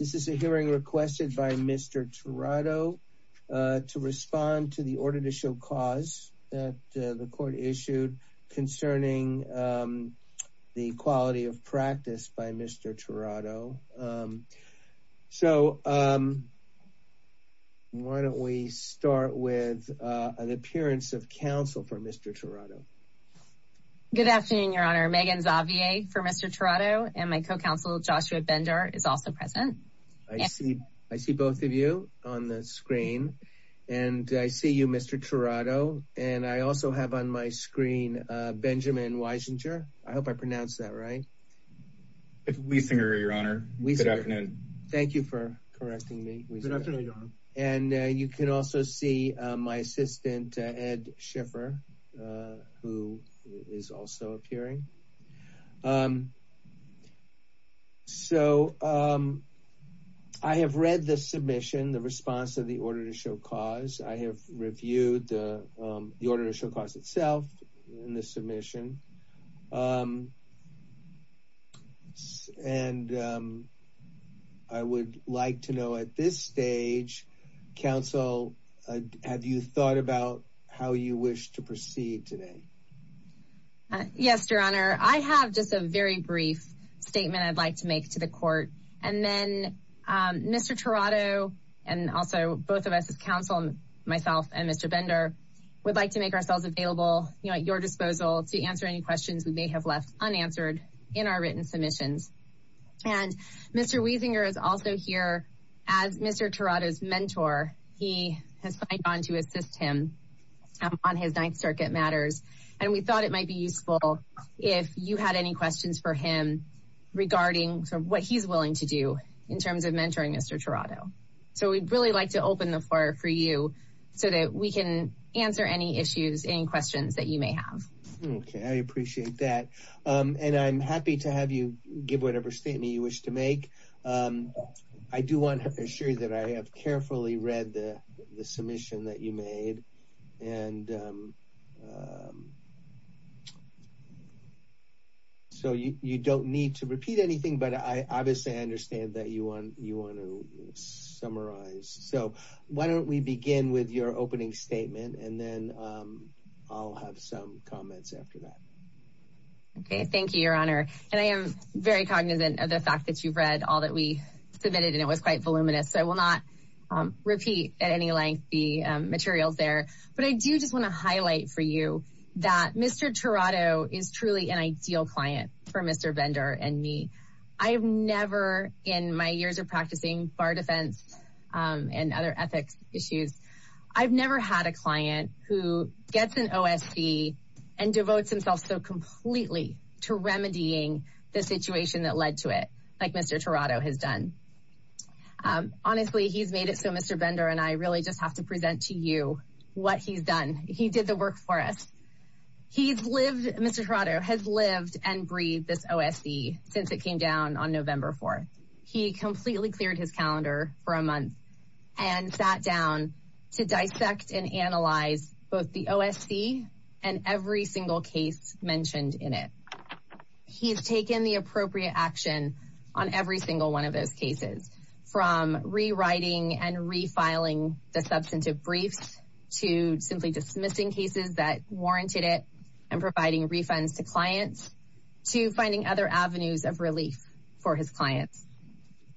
This is a hearing requested by Mr. Tirado to respond to the order to show cause that the court issued concerning the quality of practice by Mr. Tirado. So why don't we start with an appearance of counsel for Mr. Tirado. Good afternoon, Your Honor. Megan Zavier for Mr. Tirado and my co-counsel Joshua Bender is also present. I see both of you on the screen and I see you, Mr. Tirado, and I also have on my screen Benjamin Weisinger. I hope I pronounced that right. Weisinger, Your Honor. Good afternoon. Thank you for correcting me. Good afternoon, Your Honor. And you can also see my assistant, Ed Schiffer, who is also appearing. So I have read the submission, the response of the order to show cause. I have reviewed the order to show cause itself in the submission. And I would like to know at this stage, counsel, have you thought about how you wish to proceed today? Yes, Your Honor. I have just a very brief statement I'd like to make to the court. And then Mr. Tirado and also both of us as counsel, myself and Mr. Bender, would like to make ourselves available at your disposal to answer any questions we may have left unanswered in our written submissions. And Mr. Weisinger is also here as Mr. Tirado's mentor. He has gone to assist him on his Ninth Circuit matters. And we thought it might be useful if you had any questions for him regarding what he's willing to do in terms of mentoring Mr. Tirado. So we'd really like to open the floor for you so that we can answer any issues, any questions that you may have. Okay. I appreciate that. And I'm happy to have you give whatever statement you wish to make. I do want to assure you that I have carefully read the submission that you made. And so you don't need to repeat anything, but I obviously understand that you want to summarize. So why don't we begin with your opening statement, and then I'll have some comments after that. Okay. Thank you, Your Honor. And I am very cognizant of the fact that you've read all that we submitted, and it was quite voluminous. So I will not repeat at any length the materials there. But I do just want to highlight for you that Mr. Tirado is truly an ideal client for Mr. Bender and me. I have never, in my years of practicing bar defense and other ethics issues, I've never had a client who gets an OSV and devotes himself so completely to remedying the situation that led to it, like Mr. Tirado has done. Honestly, he's made it so Mr. Bender and I really just have to present to you what he's done. He did the work for us. He's lived, Mr. Tirado has lived and breathed this OSV since it came down on November 4th. He completely cleared his calendar for a month and sat down to dissect and analyze both the OSV and every single case mentioned in it. He's taken the appropriate action on every single one of those cases, from rewriting and refiling the substantive briefs to simply dismissing cases that warranted it and providing refunds to clients, to finding other avenues of relief for his clients.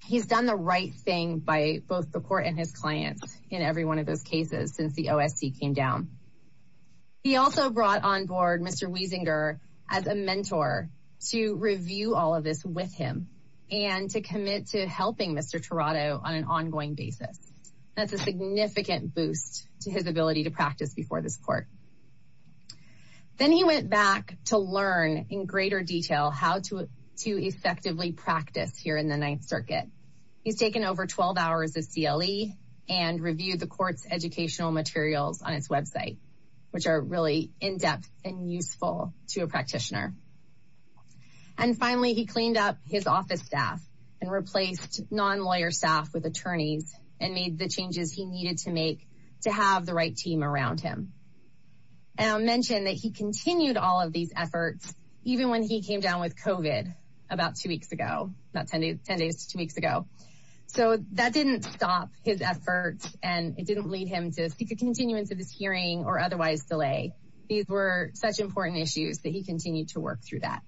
He's done the right thing by both the court and his clients in every one of those cases since the OSV came down. He also brought on board Mr. Wiesinger as a mentor to review all of this with him and to commit to helping Mr. Tirado on an ongoing basis. That's a significant boost to his ability to practice before this court. Then he went back to learn in greater detail how to effectively practice here in the Ninth Circuit. He's taken over 12 hours of CLE and reviewed the court's educational materials on its website, which are really in-depth and useful to a practitioner. And finally, he cleaned up his office staff and replaced non-lawyer staff with attorneys and made the changes he needed to make to have the right team around him. And I'll mention that he continued all of these efforts even when he came down with COVID about two weeks ago, about 10 days to two weeks ago. So that didn't stop his efforts and it didn't lead him to seek a continuance of this hearing or otherwise delay. These were such important issues that he continued to work through that.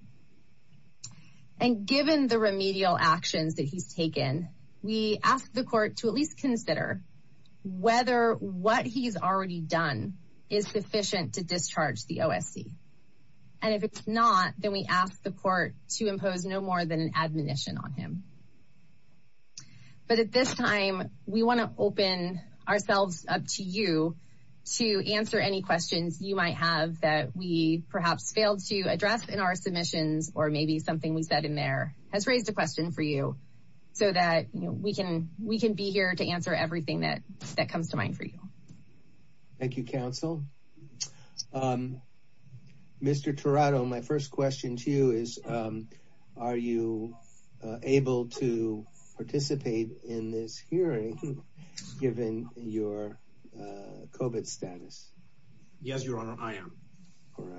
And given the remedial actions that he's taken, we ask the court to at least consider whether what he's already done is sufficient to discharge the OSC. And if it's not, then we ask the court to impose no more than an admonition on him. But at this time, we want to open ourselves up to you to answer any questions you might have that we perhaps failed to address in our submissions or maybe something we said in there has raised a question for you so that we can be here to answer everything that comes to mind for you. Thank you, counsel. Mr. Tirado, my first question to you is, are you able to participate in this hearing given your COVID status? Yes, Your Honor, I am.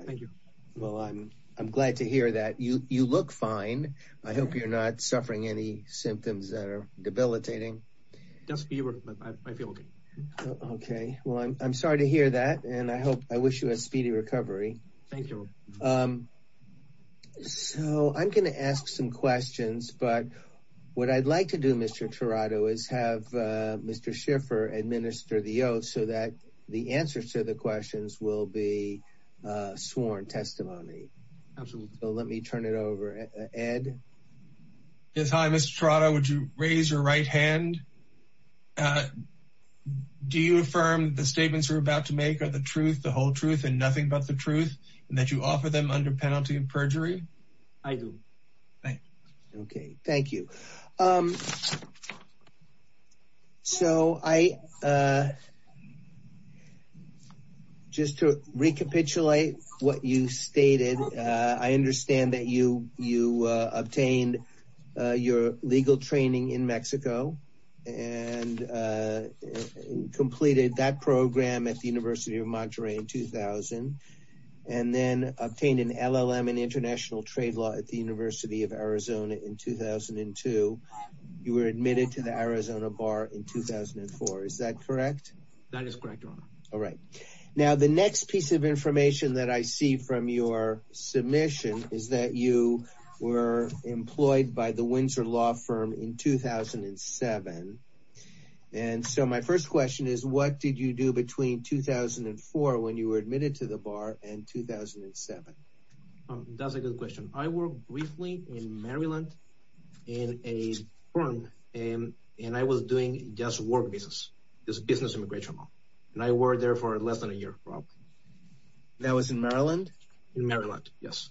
Thank you. Well, I'm glad to hear that. You look fine. I hope you're not suffering any symptoms that are debilitating. Just fever, but I feel okay. Okay. Well, I'm sorry to hear that, and I wish you a speedy recovery. Thank you. So I'm going to ask some questions, but what I'd like to do, Mr. Tirado, is have Mr. Schiffer administer the oath so that the answers to the questions will be sworn testimony. Absolutely. So let me turn it over. Ed? Yes, hi, Mr. Tirado. Would you raise your right hand? Do you affirm the statements you're about to make are the truth, the whole truth, and nothing but the truth, and that you offer them under penalty of perjury? I do. Okay. Thank you. So I, just to recapitulate what you stated, I understand that you obtained your legal training in Mexico, and completed that program at the University of Monterrey in 2000, and then obtained an LLM in international trade law at the University of Arizona in 2002. You were admitted to the Arizona Bar in 2004. Is that correct? That is correct, Your Honor. All right. Now, the next piece of information that I see from your submission is that you were employed by the Windsor Law Firm in 2007. And so my first question is, what did you do between 2004, when you were admitted to the Bar, and 2007? That's a good question. I worked briefly in Maryland in a firm, and I was doing just work business, just business immigration law. And I worked there for less than a year. That was in Maryland? In Maryland, yes.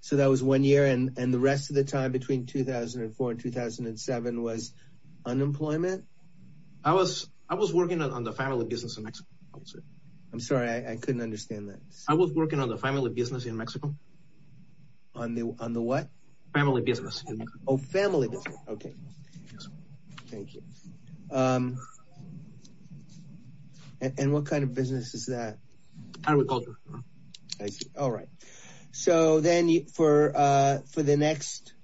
So that was one year, and the rest of the time between 2004 and 2007 was unemployment? I was working on the family business in Mexico. I'm sorry. I couldn't understand that. I was working on the family business in Mexico. On the what? Family business. Oh, family business. Okay. Thank you. And what kind of business is that? Agriculture. I see. All right. So then for the next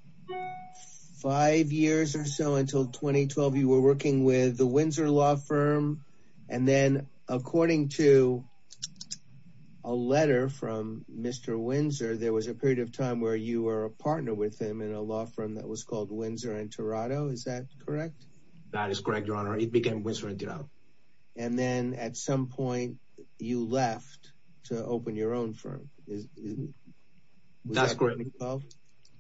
five years or so until 2012, you were working with the Windsor Law Firm. And then according to a letter from Mr. Windsor, there was a period of time where you were a partner with him in a law firm that was called Windsor and Toronto. Is that correct? That is correct, Your Honor. It became Windsor and Toronto. And then at some point you left to open your own firm. That's correct. Was that 2012?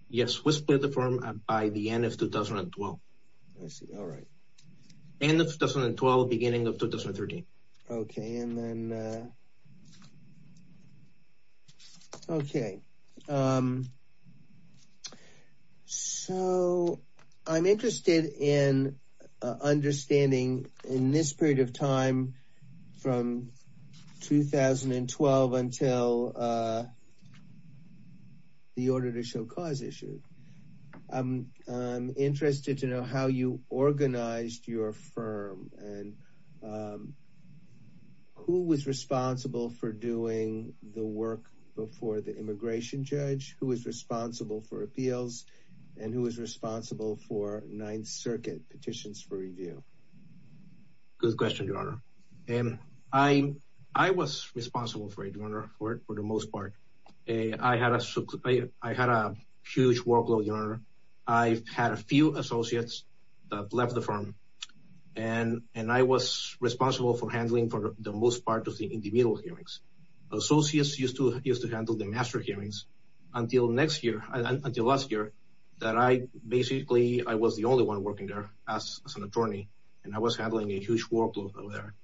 Yes. We split the firm by the end of 2012. I see. All right. End of 2012, beginning of 2013. Okay. So I'm interested in understanding in this period of time from 2012 until the order to show cause issue. I'm interested to know how you organized your firm and who was responsible for doing the work before the immigration judge, who was responsible for appeals, and who was responsible for Ninth Circuit petitions for review? Good question, Your Honor. I was responsible for it, Your Honor, for the most part. I had a huge workload, Your Honor. I've had a few associates that left the firm, and I was responsible for handling for the most part of the individual hearings. Associates used to handle the master hearings until last year that I basically was the only one working there as an attorney, and I was handling a huge workload over there.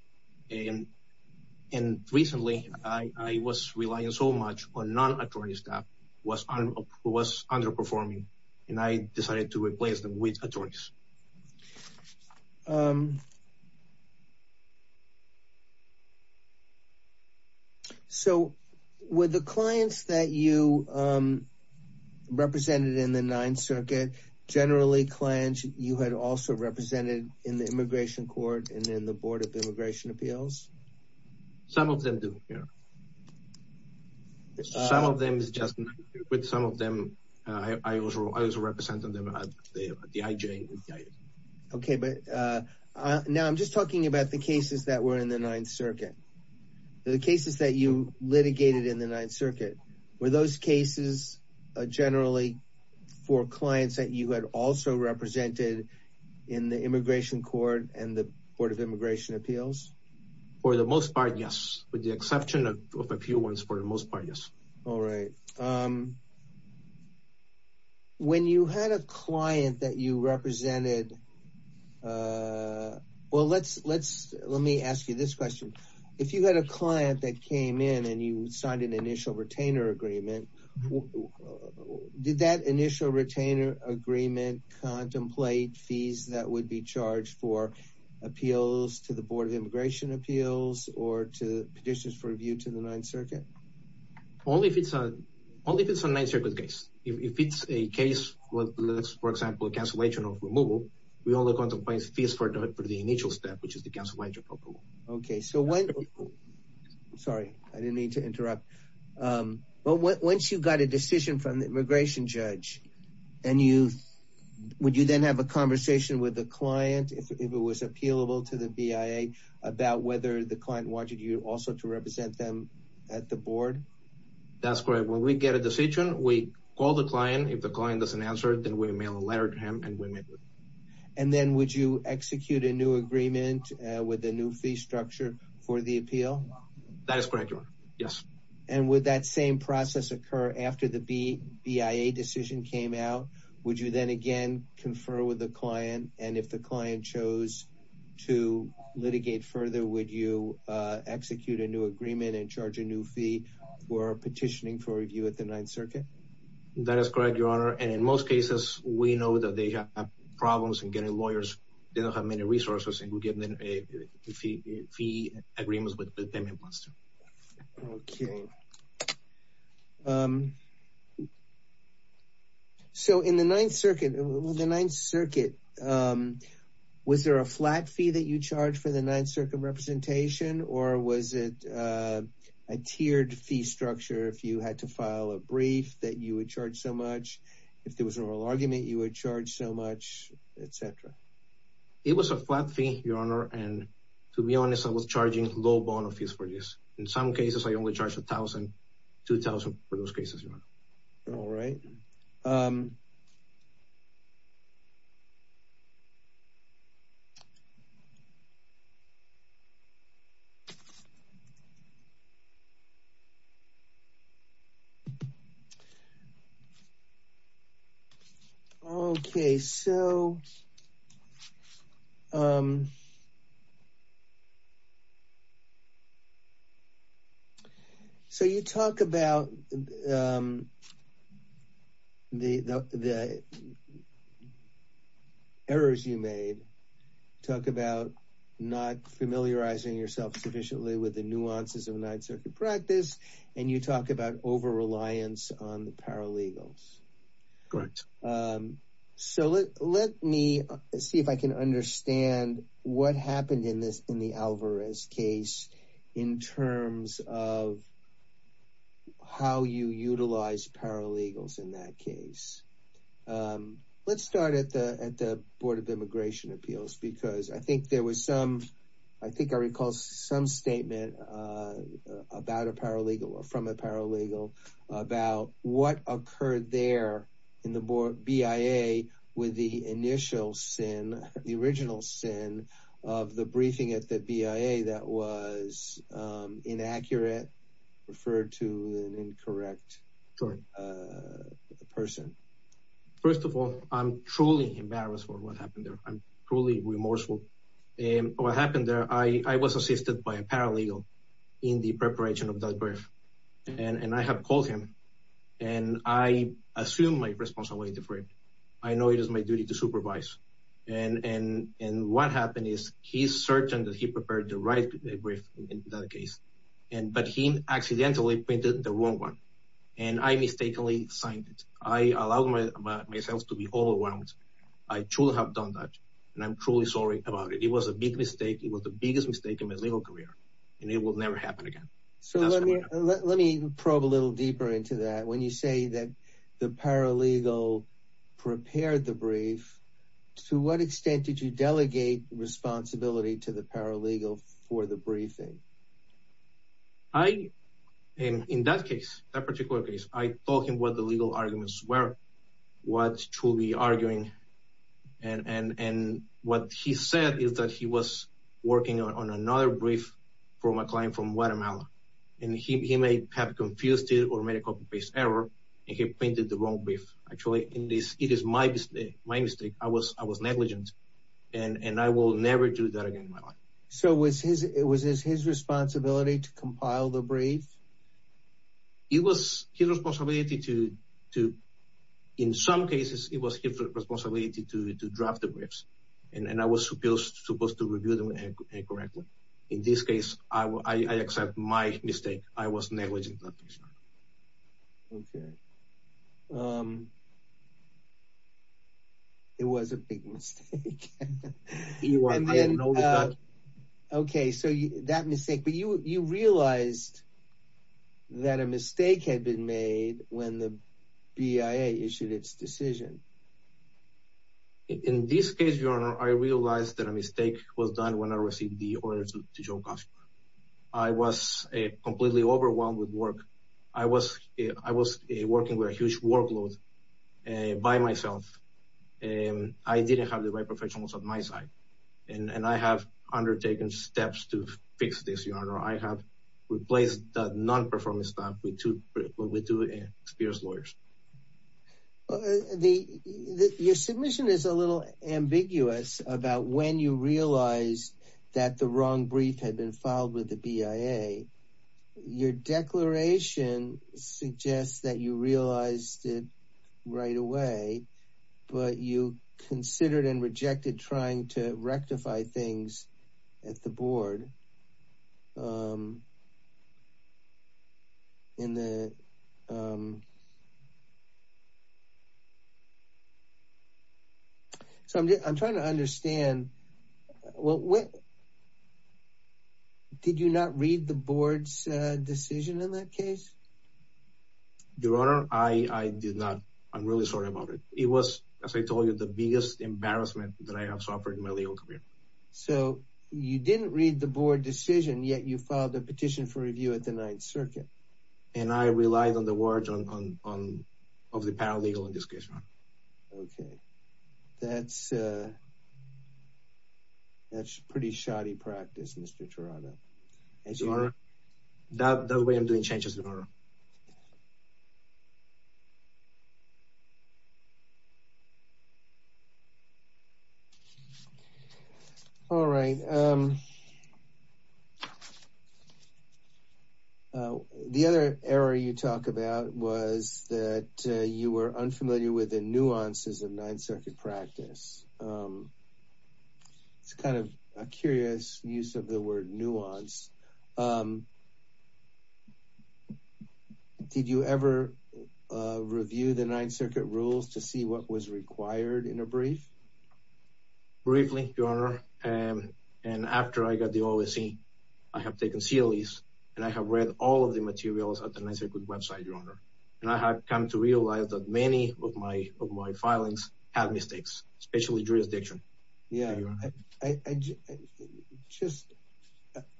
And recently I was relying so much on non-attorney staff who was underperforming, and I decided to replace them with attorneys. So were the clients that you represented in the Ninth Circuit, generally clients you had also represented in the Immigration Court and in the Board of Immigration Appeals? Some of them do, Your Honor. Some of them is just me. With some of them, I was representing them at the IJ. Okay, but now I'm just talking about the cases that were in the Ninth Circuit. The cases that you litigated in the Ninth Circuit, were those cases generally for clients that you had also represented in the Immigration Court and the Board of Immigration Appeals? For the most part, yes. With the exception of a few ones, for the most part, yes. All right. When you had a client that you represented – well, let me ask you this question. If you had a client that came in and you signed an initial retainer agreement, did that initial retainer agreement contemplate fees that would be charged for appeals to the Board of Immigration Appeals or to petitions for review to the Ninth Circuit? Only if it's a Ninth Circuit case. If it's a case, for example, a cancellation of removal, we only contemplate fees for the initial step, which is the cancellation of removal. Okay. Sorry, I didn't mean to interrupt. But once you got a decision from the immigration judge, would you then have a conversation with the client, if it was appealable to the BIA, about whether the client wanted you also to represent them at the Board? That's correct. When we get a decision, we call the client. If the client doesn't answer, then we mail a letter to him and we make the decision. And then would you execute a new agreement with a new fee structure for the appeal? That is correct, Your Honor. Yes. And would that same process occur after the BIA decision came out? Would you then again confer with the client? And if the client chose to litigate further, would you execute a new agreement and charge a new fee for petitioning for review at the Ninth Circuit? That is correct, Your Honor. And in most cases, we know that they have problems in getting lawyers. They don't have many resources, and we give them a fee agreement with them. Okay. So, in the Ninth Circuit, was there a flat fee that you charged for the Ninth Circuit representation? Or was it a tiered fee structure if you had to file a brief that you would charge so much? If there was an oral argument, you would charge so much, etc.? It was a flat fee, Your Honor. And to be honest, I was charging low bono fees for this. In some cases, I only charged $1,000, $2,000 for those cases, Your Honor. All right. Okay. So, you talk about the errors you made, talk about not familiarizing yourself sufficiently with the nuances of Ninth Circuit practice, and you talk about over-reliance on the paralegals. Correct. So, let me see if I can understand what happened in the Alvarez case in terms of how you utilize paralegals in that case. Let's start at the Board of Immigration Appeals because I think there was some, I think I recall some statement about a paralegal or from a paralegal about what occurred there in the BIA with the initial sin, the original sin of the briefing at the BIA that was inaccurate, referred to an incorrect person. First of all, I'm truly embarrassed for what happened there. I'm truly remorseful. What happened there, I was assisted by a paralegal in the preparation of that brief, and I have called him, and I assume my responsibility for it. I know it is my duty to supervise. And what happened is he's certain that he prepared the right brief in that case, but he accidentally printed the wrong one, and I mistakenly signed it. I allowed myself to be overwhelmed. I truly have done that, and I'm truly sorry about it. It was a big mistake. It was the biggest mistake in my legal career, and it will never happen again. So, let me probe a little deeper into that. When you say that the paralegal prepared the brief, to what extent did you delegate responsibility to the paralegal for the briefing? In that case, that particular case, I told him what the legal arguments were, what to be arguing, and what he said is that he was working on another brief from a client from Guatemala. And he may have confused it or made a copy-paste error, and he printed the wrong brief. Actually, it is my mistake. I was negligent, and I will never do that again in my life. So, was it his responsibility to compile the brief? It was his responsibility to, in some cases, it was his responsibility to draft the briefs, and I was supposed to review them incorrectly. In this case, I accept my mistake. I was negligent. Okay. It was a big mistake. Okay, so that mistake. But you realized that a mistake had been made when the BIA issued its decision. In this case, Your Honor, I realized that a mistake was done when I received the order to Joe Costner. I was completely overwhelmed with work. I was working with a huge workload by myself. I didn't have the right professionals on my side, and I have undertaken steps to fix this, Your Honor. I have replaced the non-performance staff with two experienced lawyers. Your submission is a little ambiguous about when you realized that the wrong brief had been filed with the BIA. Your declaration suggests that you realized it right away, but you considered and rejected trying to rectify things at the board. So I'm trying to understand, did you not read the board's decision in that case? Your Honor, I did not. I'm really sorry about it. It was, as I told you, the biggest embarrassment that I have suffered in my legal career. So you didn't read the board decision, yet you filed a petition for review at the Ninth Circuit. And I relied on the words of the paralegal in this case, Your Honor. Okay. That's pretty shoddy practice, Mr. Tirado. Your Honor, that way I'm doing changes, Your Honor. All right. The other error you talk about was that you were unfamiliar with the nuances of Ninth Circuit practice. It's kind of a curious use of the word nuance. Did you ever review the Ninth Circuit rules to see what was required in a brief? Briefly, Your Honor. And after I got the OSC, I have taken CLEs, and I have read all of the materials at the Ninth Circuit website, Your Honor. And I have come to realize that many of my filings have mistakes, especially jurisdiction. Your Honor.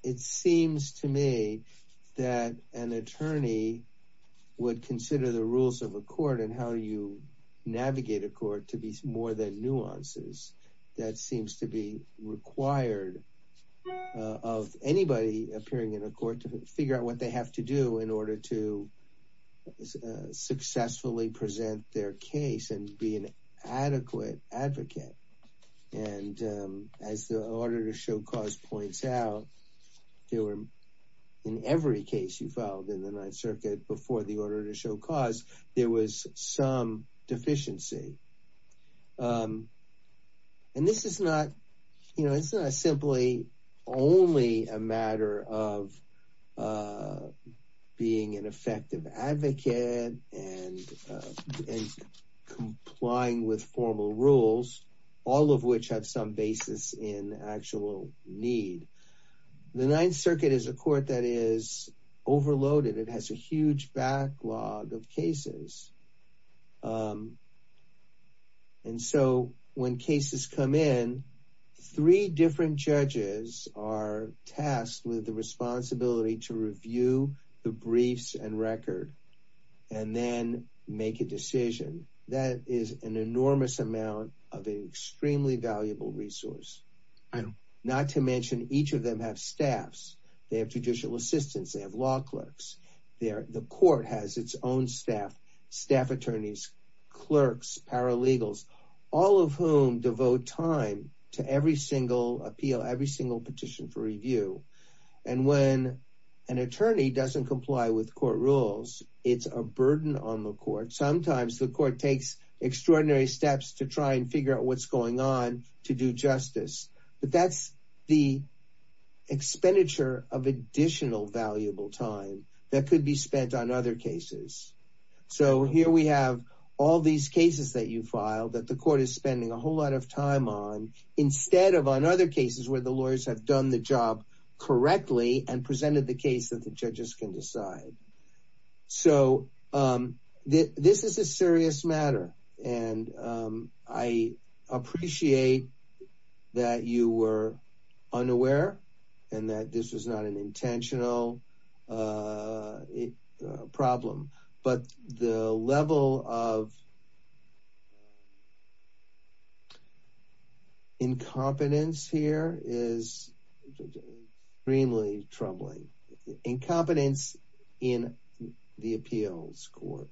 It seems to me that an attorney would consider the rules of a court and how you navigate a court to be more than nuances. That seems to be required of anybody appearing in a court to figure out what they have to do in order to successfully present their case and be an adequate advocate. And as the order to show cause points out, in every case you filed in the Ninth Circuit before the order to show cause, there was some deficiency. And this is not simply only a matter of being an effective advocate and complying with formal rules, all of which have some basis in actual need. The Ninth Circuit is a court that is overloaded. It has a huge backlog of cases. And so when cases come in, three different judges are tasked with the responsibility to review the briefs and record and then make a decision. That is an enormous amount of an extremely valuable resource. Not to mention each of them have staffs. They have judicial assistants. They have law clerks. The court has its own staff, staff attorneys, clerks, paralegals, all of whom devote time to every single appeal, every single petition for review. And when an attorney doesn't comply with court rules, it's a burden on the court. Sometimes the court takes extraordinary steps to try and figure out what's going on to do justice. But that's the expenditure of additional valuable time that could be spent on other cases. So here we have all these cases that you filed that the court is spending a whole lot of time on instead of on other cases where the lawyers have done the job correctly and presented the case that the judges can decide. So this is a serious matter. And I appreciate that you were unaware and that this was not an intentional problem. But the level of incompetence here is extremely troubling. Incompetence in the appeals court.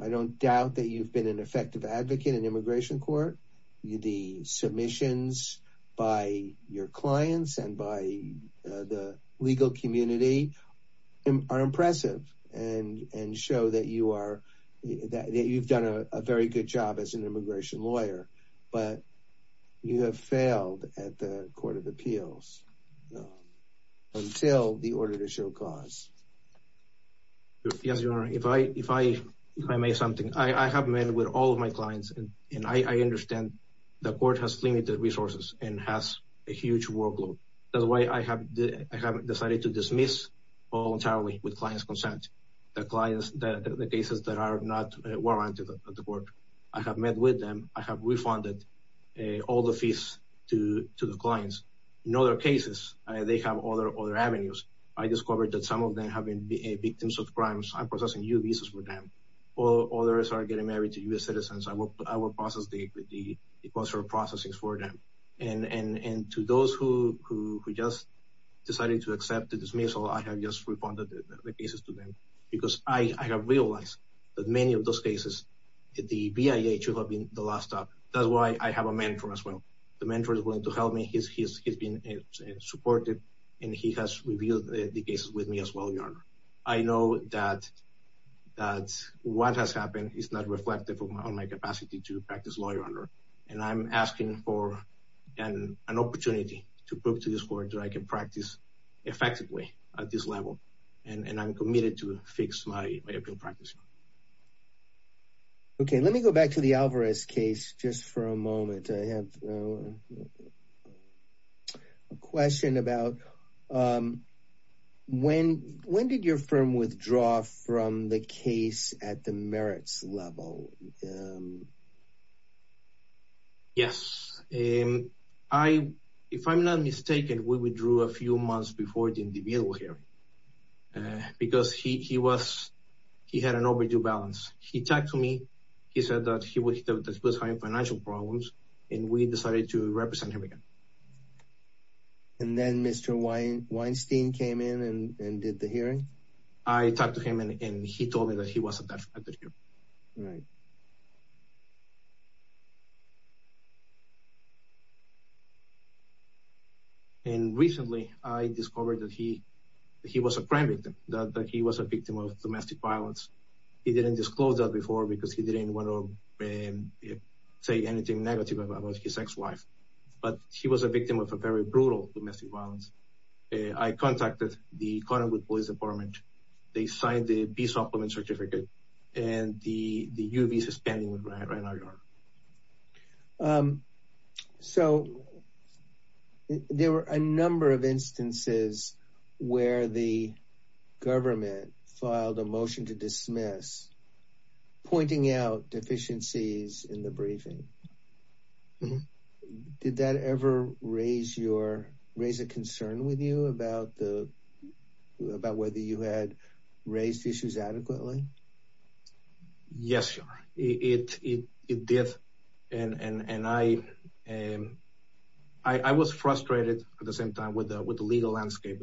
I don't doubt that you've been an effective advocate in immigration court. The submissions by your clients and by the legal community are impressive and show that you've done a very good job as an immigration lawyer. But you have failed at the court of appeals until the order to show cause. Yes, Your Honor. If I may say something, I have met with all of my clients, and I understand the court has limited resources and has a huge workload. That's why I have decided to dismiss voluntarily with client's consent the cases that are not warranted at the court. I have met with them. I have refunded all the fees to the clients. In other cases, they have other avenues. I discovered that some of them have been victims of crimes. I'm processing U visas for them. Others are getting married to U.S. citizens. I will process the equal share of processing for them. And to those who just decided to accept the dismissal, I have just refunded the cases to them. Because I have realized that many of those cases, the BIA should have been the last stop. That's why I have a mentor as well. The mentor is willing to help me. He's been supportive, and he has reviewed the cases with me as well, Your Honor. I know that what has happened is not reflective of my capacity to practice law, Your Honor. And I'm asking for an opportunity to prove to this court that I can practice effectively at this level. And I'm committed to fix my appeal practice. Okay. Let me go back to the Alvarez case just for a moment. I have a question about when did your firm withdraw from the case at the merits level? Yes. If I'm not mistaken, we withdrew a few months before the individual hearing. Because he had an overdue balance. He talked to me. He said that he was having financial problems, and we decided to represent him again. And then Mr. Weinstein came in and did the hearing? I talked to him, and he told me that he wasn't that affected here. Right. And recently, I discovered that he was a crime victim, that he was a victim of domestic violence. He didn't disclose that before because he didn't want to say anything negative about his ex-wife. But he was a victim of a very brutal domestic violence. I contacted the Cottonwood Police Department. They signed the B Supplement Certificate, and the U of E is standing right in our yard. So, there were a number of instances where the government filed a motion to dismiss, pointing out deficiencies in the briefing. Did that ever raise a concern with you about whether you had raised issues adequately? Yes, it did. And I was frustrated at the same time with the legal landscape,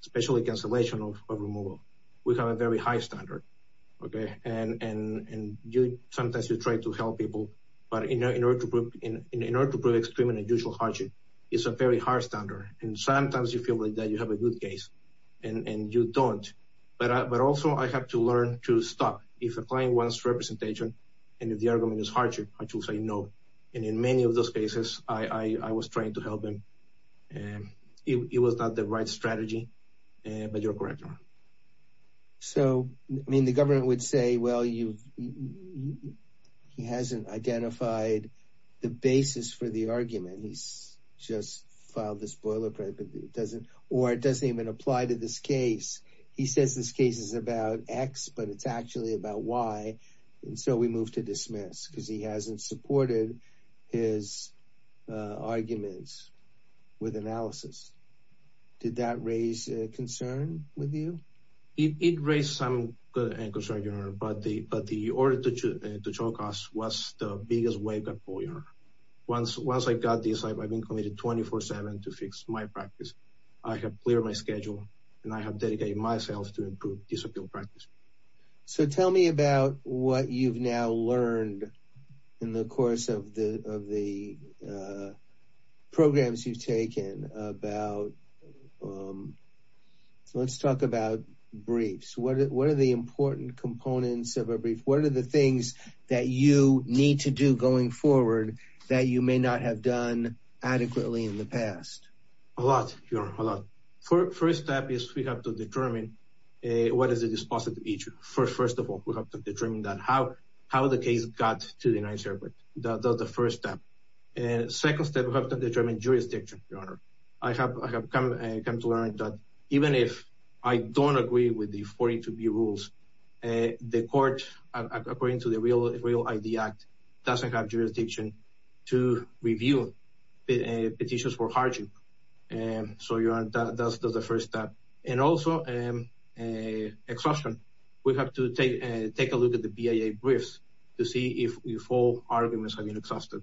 especially cancellation of removal. We have a very high standard. And sometimes you try to help people, but in order to prove extreme and unusual hardship, it's a very high standard. And sometimes you feel like that you have a good case, and you don't. But also, I have to learn to stop. If a client wants representation, and if the argument is hardship, I should say no. And in many of those cases, I was trying to help him. It was not the right strategy, but you're correct. So, the government would say, well, he hasn't identified the basis for the argument. He's just filed this boilerplate, or it doesn't even apply to this case. He says this case is about X, but it's actually about Y. And so, we move to dismiss, because he hasn't supported his arguments with analysis. Did that raise a concern with you? It raised some concern, Your Honor. But the order to choke us was the biggest wave that boiler. Once I got this, I've been committed 24-7 to fix my practice. I have cleared my schedule, and I have dedicated myself to improve this appeal practice. So, tell me about what you've now learned in the course of the programs you've taken. Let's talk about briefs. What are the important components of a brief? What are the things that you need to do going forward that you may not have done adequately in the past? A lot, Your Honor. A lot. First step is we have to determine what is the dispositive issue. First of all, we have to determine how the case got to the United States. That's the first step. Second step, we have to determine jurisdiction, Your Honor. I have come to learn that even if I don't agree with the 42B rules, the court, according to the Real ID Act, doesn't have jurisdiction to review petitions for harming. So, that's the first step. And also, exhaustion. We have to take a look at the BIA briefs to see if all arguments have been exhausted,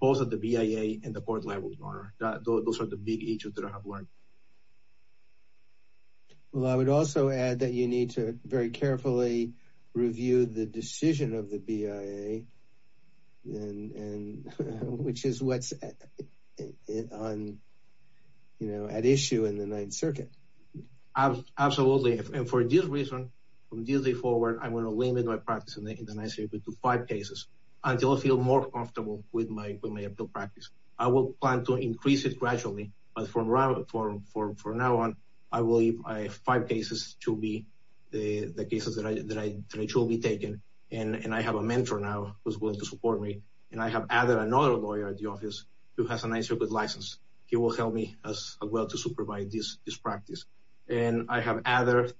both at the BIA and the court level, Your Honor. Those are the big issues that I have learned. Well, I would also add that you need to very carefully review the decision of the BIA, which is what's at issue in the Ninth Circuit. Absolutely. And for this reason, from this day forward, I'm going to limit my practice in the United States to five cases until I feel more comfortable with my appeal practice. I will plan to increase it gradually. But from now on, I will leave my five cases to be the cases that I should be taking. And I have a mentor now who's willing to support me. And I have added another lawyer at the office who has a Ninth Circuit license. He will help me as well to supervise this practice. And I have added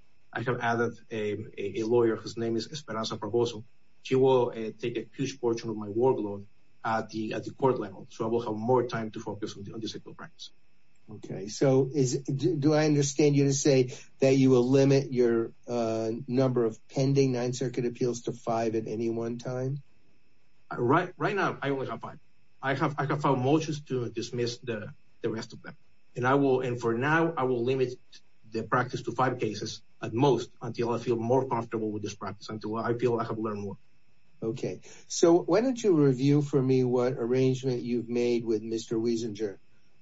a lawyer whose name is Esperanza Pervoso. She will take a huge portion of my workload at the court level. So I will have more time to focus on this appeal practice. Okay. So do I understand you to say that you will limit your number of pending Ninth Circuit appeals to five at any one time? Right now, I only have five. I have filed motions to dismiss the rest of them. And for now, I will limit the practice to five cases at most until I feel more comfortable with this practice, until I feel I have learned more. Okay. So why don't you review for me what arrangement you've made with Mr. Wiesinger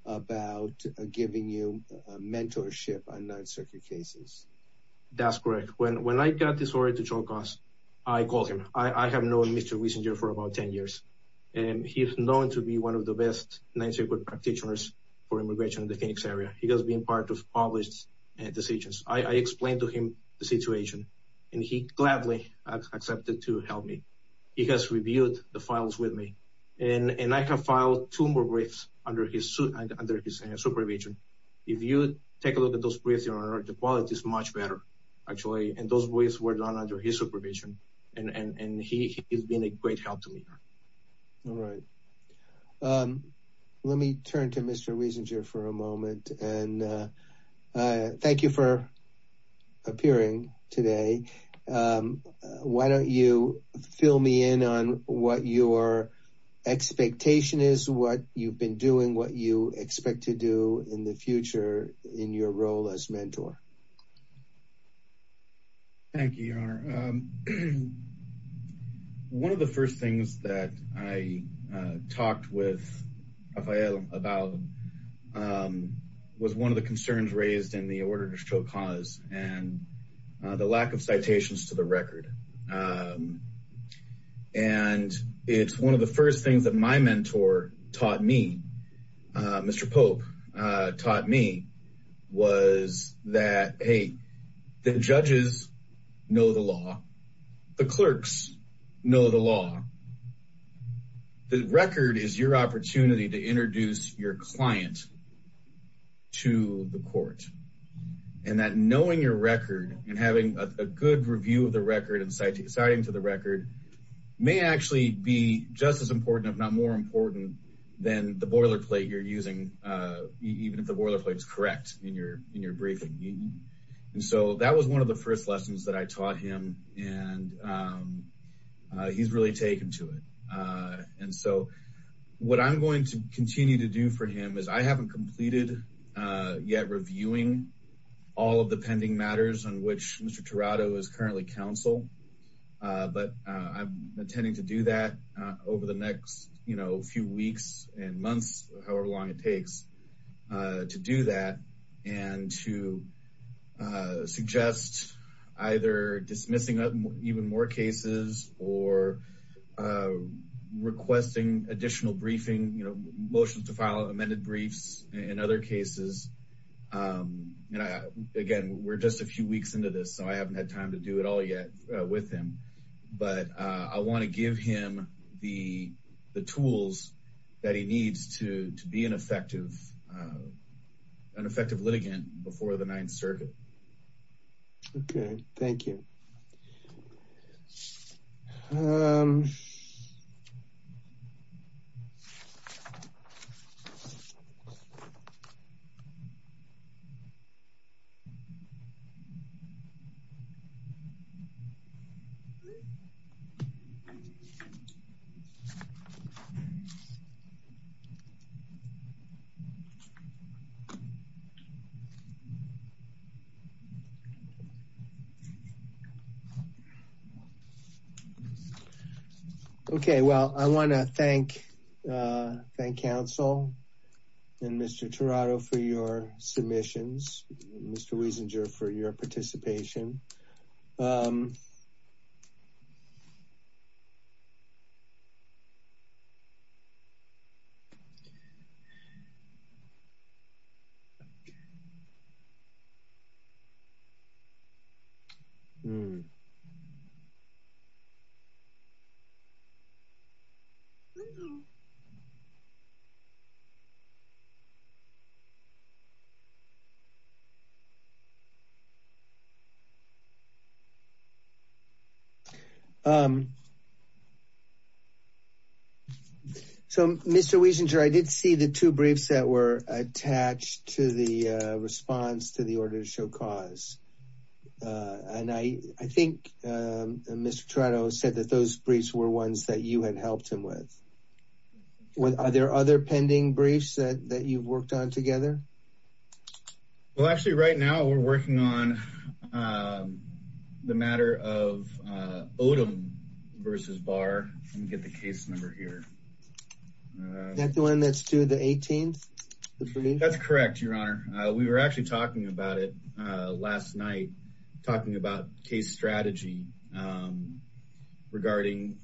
about giving you mentorship on Ninth Circuit cases? That's correct. When I got this order to Chonkas, I called him. I have known Mr. Wiesinger for about 10 years. And he is known to be one of the best Ninth Circuit practitioners for immigration in the Phoenix area. He has been part of published decisions. I explained to him the situation. And he gladly accepted to help me. He has reviewed the files with me. And I have filed two more briefs under his supervision. If you take a look at those briefs, Your Honor, the quality is much better, actually. And those briefs were done under his supervision. And he has been a great help to me. Let me turn to Mr. Wiesinger for a moment. Thank you for appearing today. Why don't you fill me in on what your expectation is, what you've been doing, what you expect to do in the future in your role as mentor? Your Honor, one of the first things that I talked with Rafael about was one of the concerns raised in the order to Chonkas and the lack of citations to the record. And it's one of the first things that my mentor taught me, Mr. Pope, taught me was that, hey, the judges know the law. The clerks know the law. The record is your opportunity to introduce your client to the court. And that knowing your record and having a good review of the record and citing to the record may actually be just as important, if not more important, than the boilerplate you're using, even if the boilerplate is correct in your briefing. And so that was one of the first lessons that I taught him. And he's really taken to it. And so what I'm going to continue to do for him is I haven't completed yet reviewing all of the pending matters on which Mr. Tirado is currently counsel. But I'm intending to do that over the next, you know, few weeks and months, however long it takes to do that and to suggest either dismissing even more cases or requesting additional briefing, you know, motions to file amended briefs in other cases. And again, we're just a few weeks into this, so I haven't had time to do it all yet with him. But I want to give him the tools that he needs to be an effective litigant before the Ninth Circuit. OK, thank you. OK, well, I want to thank counsel and Mr. Tirado for your submissions, Mr. Wiesinger for your participation. So, Mr. Wiesinger, I did see the two briefs that were attached to the response to the order to show caution. And I think Mr. Tirado said that those briefs were ones that you had helped him with. Are there other pending briefs that you've worked on together? Well, actually, right now we're working on the matter of Odom versus Barr and get the case number here. That's the one that's due the 18th. That's correct, Your Honor. We were actually talking about it last night, talking about case strategy regarding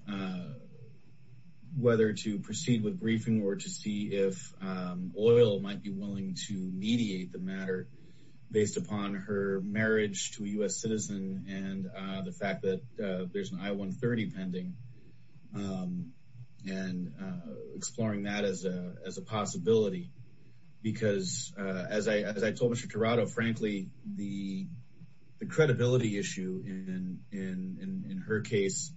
whether to proceed with briefing or to see if oil might be willing to mediate the matter based upon her marriage to a U.S. citizen and the fact that there's an I-130 pending and exploring that as a possibility. Because as I told Mr. Tirado, frankly, the credibility issue in her case,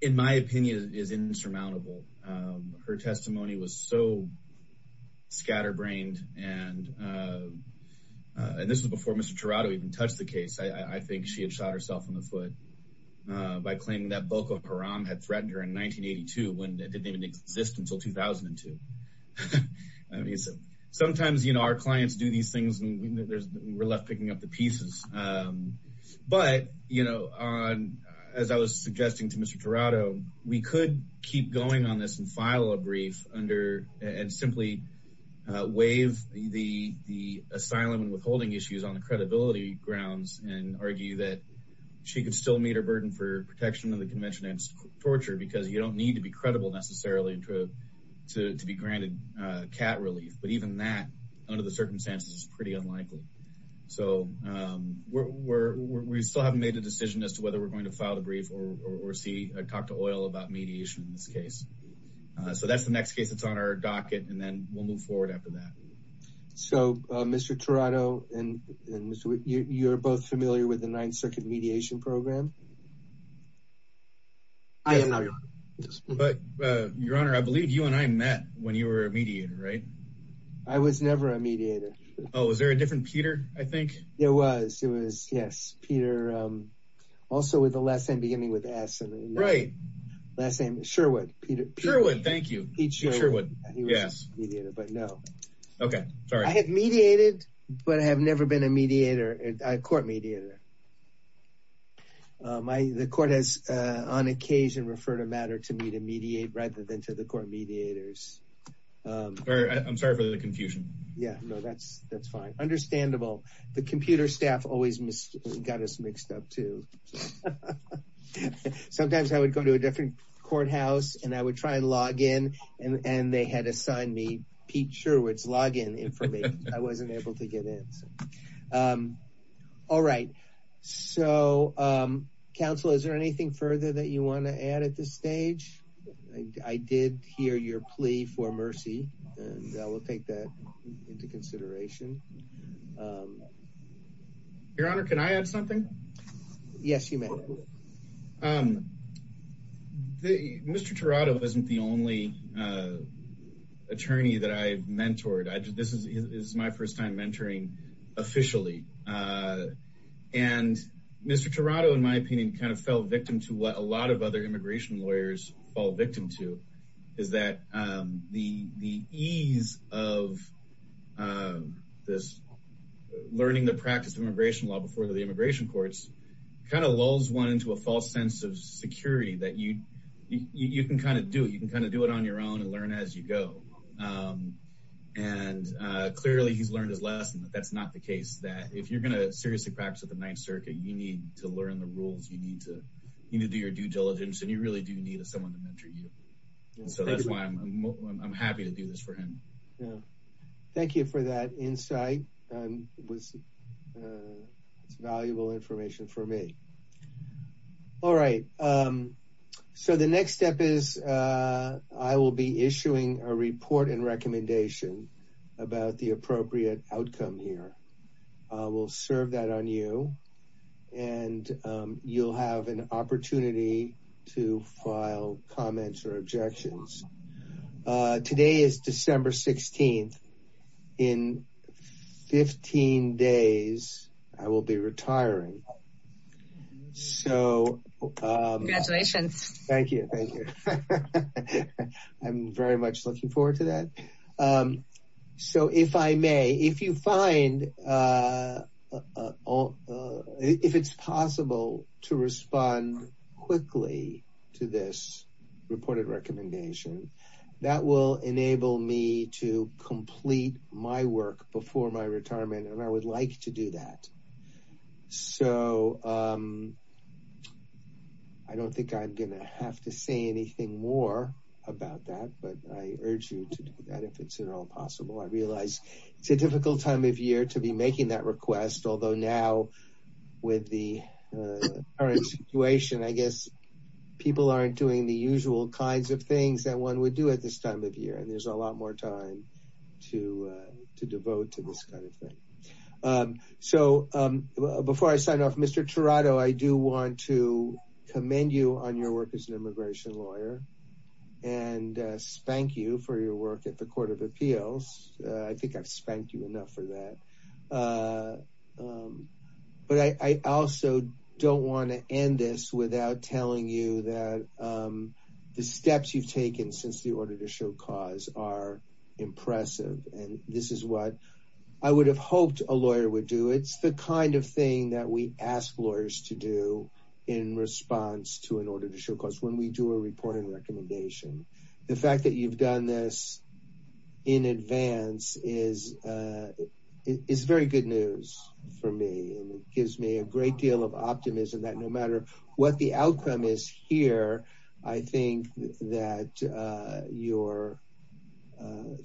in my opinion, is insurmountable. Her testimony was so scatterbrained. And this was before Mr. Tirado even touched the case. I think she had shot herself in the foot by claiming that Boko Haram had threatened her in 1982 when it didn't even exist until 2002. Sometimes our clients do these things and we're left picking up the pieces. But, you know, as I was suggesting to Mr. Tirado, we could keep going on this and file a brief and simply waive the asylum and withholding issues on the credibility grounds and argue that she could still meet her burden for protection of the convention and torture because you don't need to be credible necessarily to be granted cat relief. But even that, under the circumstances, is pretty unlikely. So we still haven't made a decision as to whether we're going to file the brief or talk to OIL about mediation in this case. So that's the next case that's on our docket and then we'll move forward after that. So, Mr. Tirado, you're both familiar with the Ninth Circuit Mediation Program? I am not, Your Honor. But, Your Honor, I believe you and I met when you were a mediator, right? I was never a mediator. Oh, was there a different Peter, I think? There was. Yes. Peter, also with the last name beginning with S. Right. Last name, Sherwood. Peter. Sherwood. Thank you. Pete Sherwood. He was a mediator, but no. Okay. Sorry. I have mediated, but I have never been a mediator, a court mediator. The court has, on occasion, referred a matter to me to mediate rather than to the court mediators. I'm sorry for the confusion. Yeah. No, that's fine. Understandable. The computer staff always got us mixed up, too. Sometimes I would go to a different courthouse and I would try and log in and they had assigned me Pete Sherwood's login information. I wasn't able to get in. All right. So, counsel, is there anything further that you want to add at this stage? I did hear your plea for mercy, and I will take that into consideration. Your Honor, can I add something? Yes, you may. Mr. Tirado isn't the only attorney that I've mentored. This is my first time mentoring officially. And Mr. Tirado, in my opinion, kind of fell victim to what a lot of other immigration lawyers fall victim to, is that the ease of this learning the practice of immigration law before the immigration courts kind of lulls one into a false sense of security that you can kind of do it. You can kind of do it on your own and learn as you go. And clearly, he's learned his lesson that that's not the case, that if you're going to seriously practice at the Ninth Circuit, you need to learn the rules, you need to do your due diligence, and you really do need someone to mentor you. So that's why I'm happy to do this for him. Thank you for that insight. It's valuable information for me. All right. So the next step is I will be issuing a report and recommendation about the appropriate outcome here. We'll serve that on you, and you'll have an opportunity to file comments or objections. Today is December 16th. In 15 days, I will be retiring. So... Congratulations. Thank you. I'm very much looking forward to that. So if I may, if you find... If it's possible to respond quickly to this reported recommendation, that will enable me to complete my work before my retirement, and I would like to do that. So... I don't think I'm going to have to say anything more about that, but I urge you to do that if it's at all possible. I realize it's a difficult time of year to be making that request, although now with the current situation, I guess people aren't doing the usual kinds of things that one would do at this time of year, and there's a lot more time to devote to this kind of thing. So before I sign off, Mr. Tirado, I do want to commend you on your work as an immigration lawyer, and spank you for your work at the Court of Appeals. I think I've spanked you enough for that. But I also don't want to end this without telling you that the steps you've taken since the Order to Show Cause are impressive, and this is what I would have hoped a lawyer would do. It's the kind of thing that we ask lawyers to do in response to an Order to Show Cause, when we do a reporting recommendation. The fact that you've done this in advance is very good news for me, and it gives me a great deal of optimism that no matter what the outcome is here, I think that your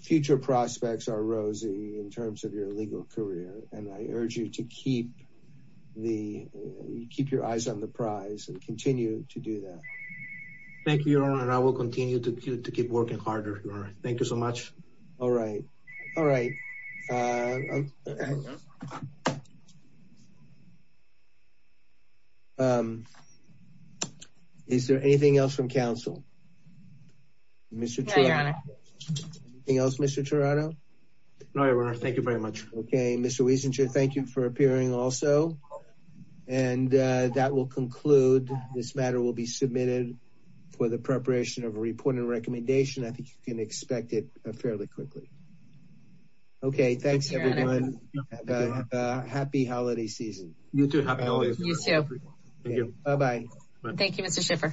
future prospects are rosy in terms of your legal career, and I urge you to keep your eyes on the prize and continue to do that. Thank you, Your Honor, and I will continue to keep working harder, Your Honor. Thank you so much. All right. All right. Is there anything else from counsel? No, Your Honor. Anything else, Mr. Toronto? No, Your Honor. Thank you very much. Okay. Mr. Wiesentritt, thank you for appearing also, and that will conclude. This matter will be submitted for the preparation of a reporting recommendation. I think you can expect it fairly quickly. Okay. Thanks, everyone. Happy holiday season. You too. Happy holidays. You too. Thank you. Bye-bye. Thank you, Mr. Schiffer.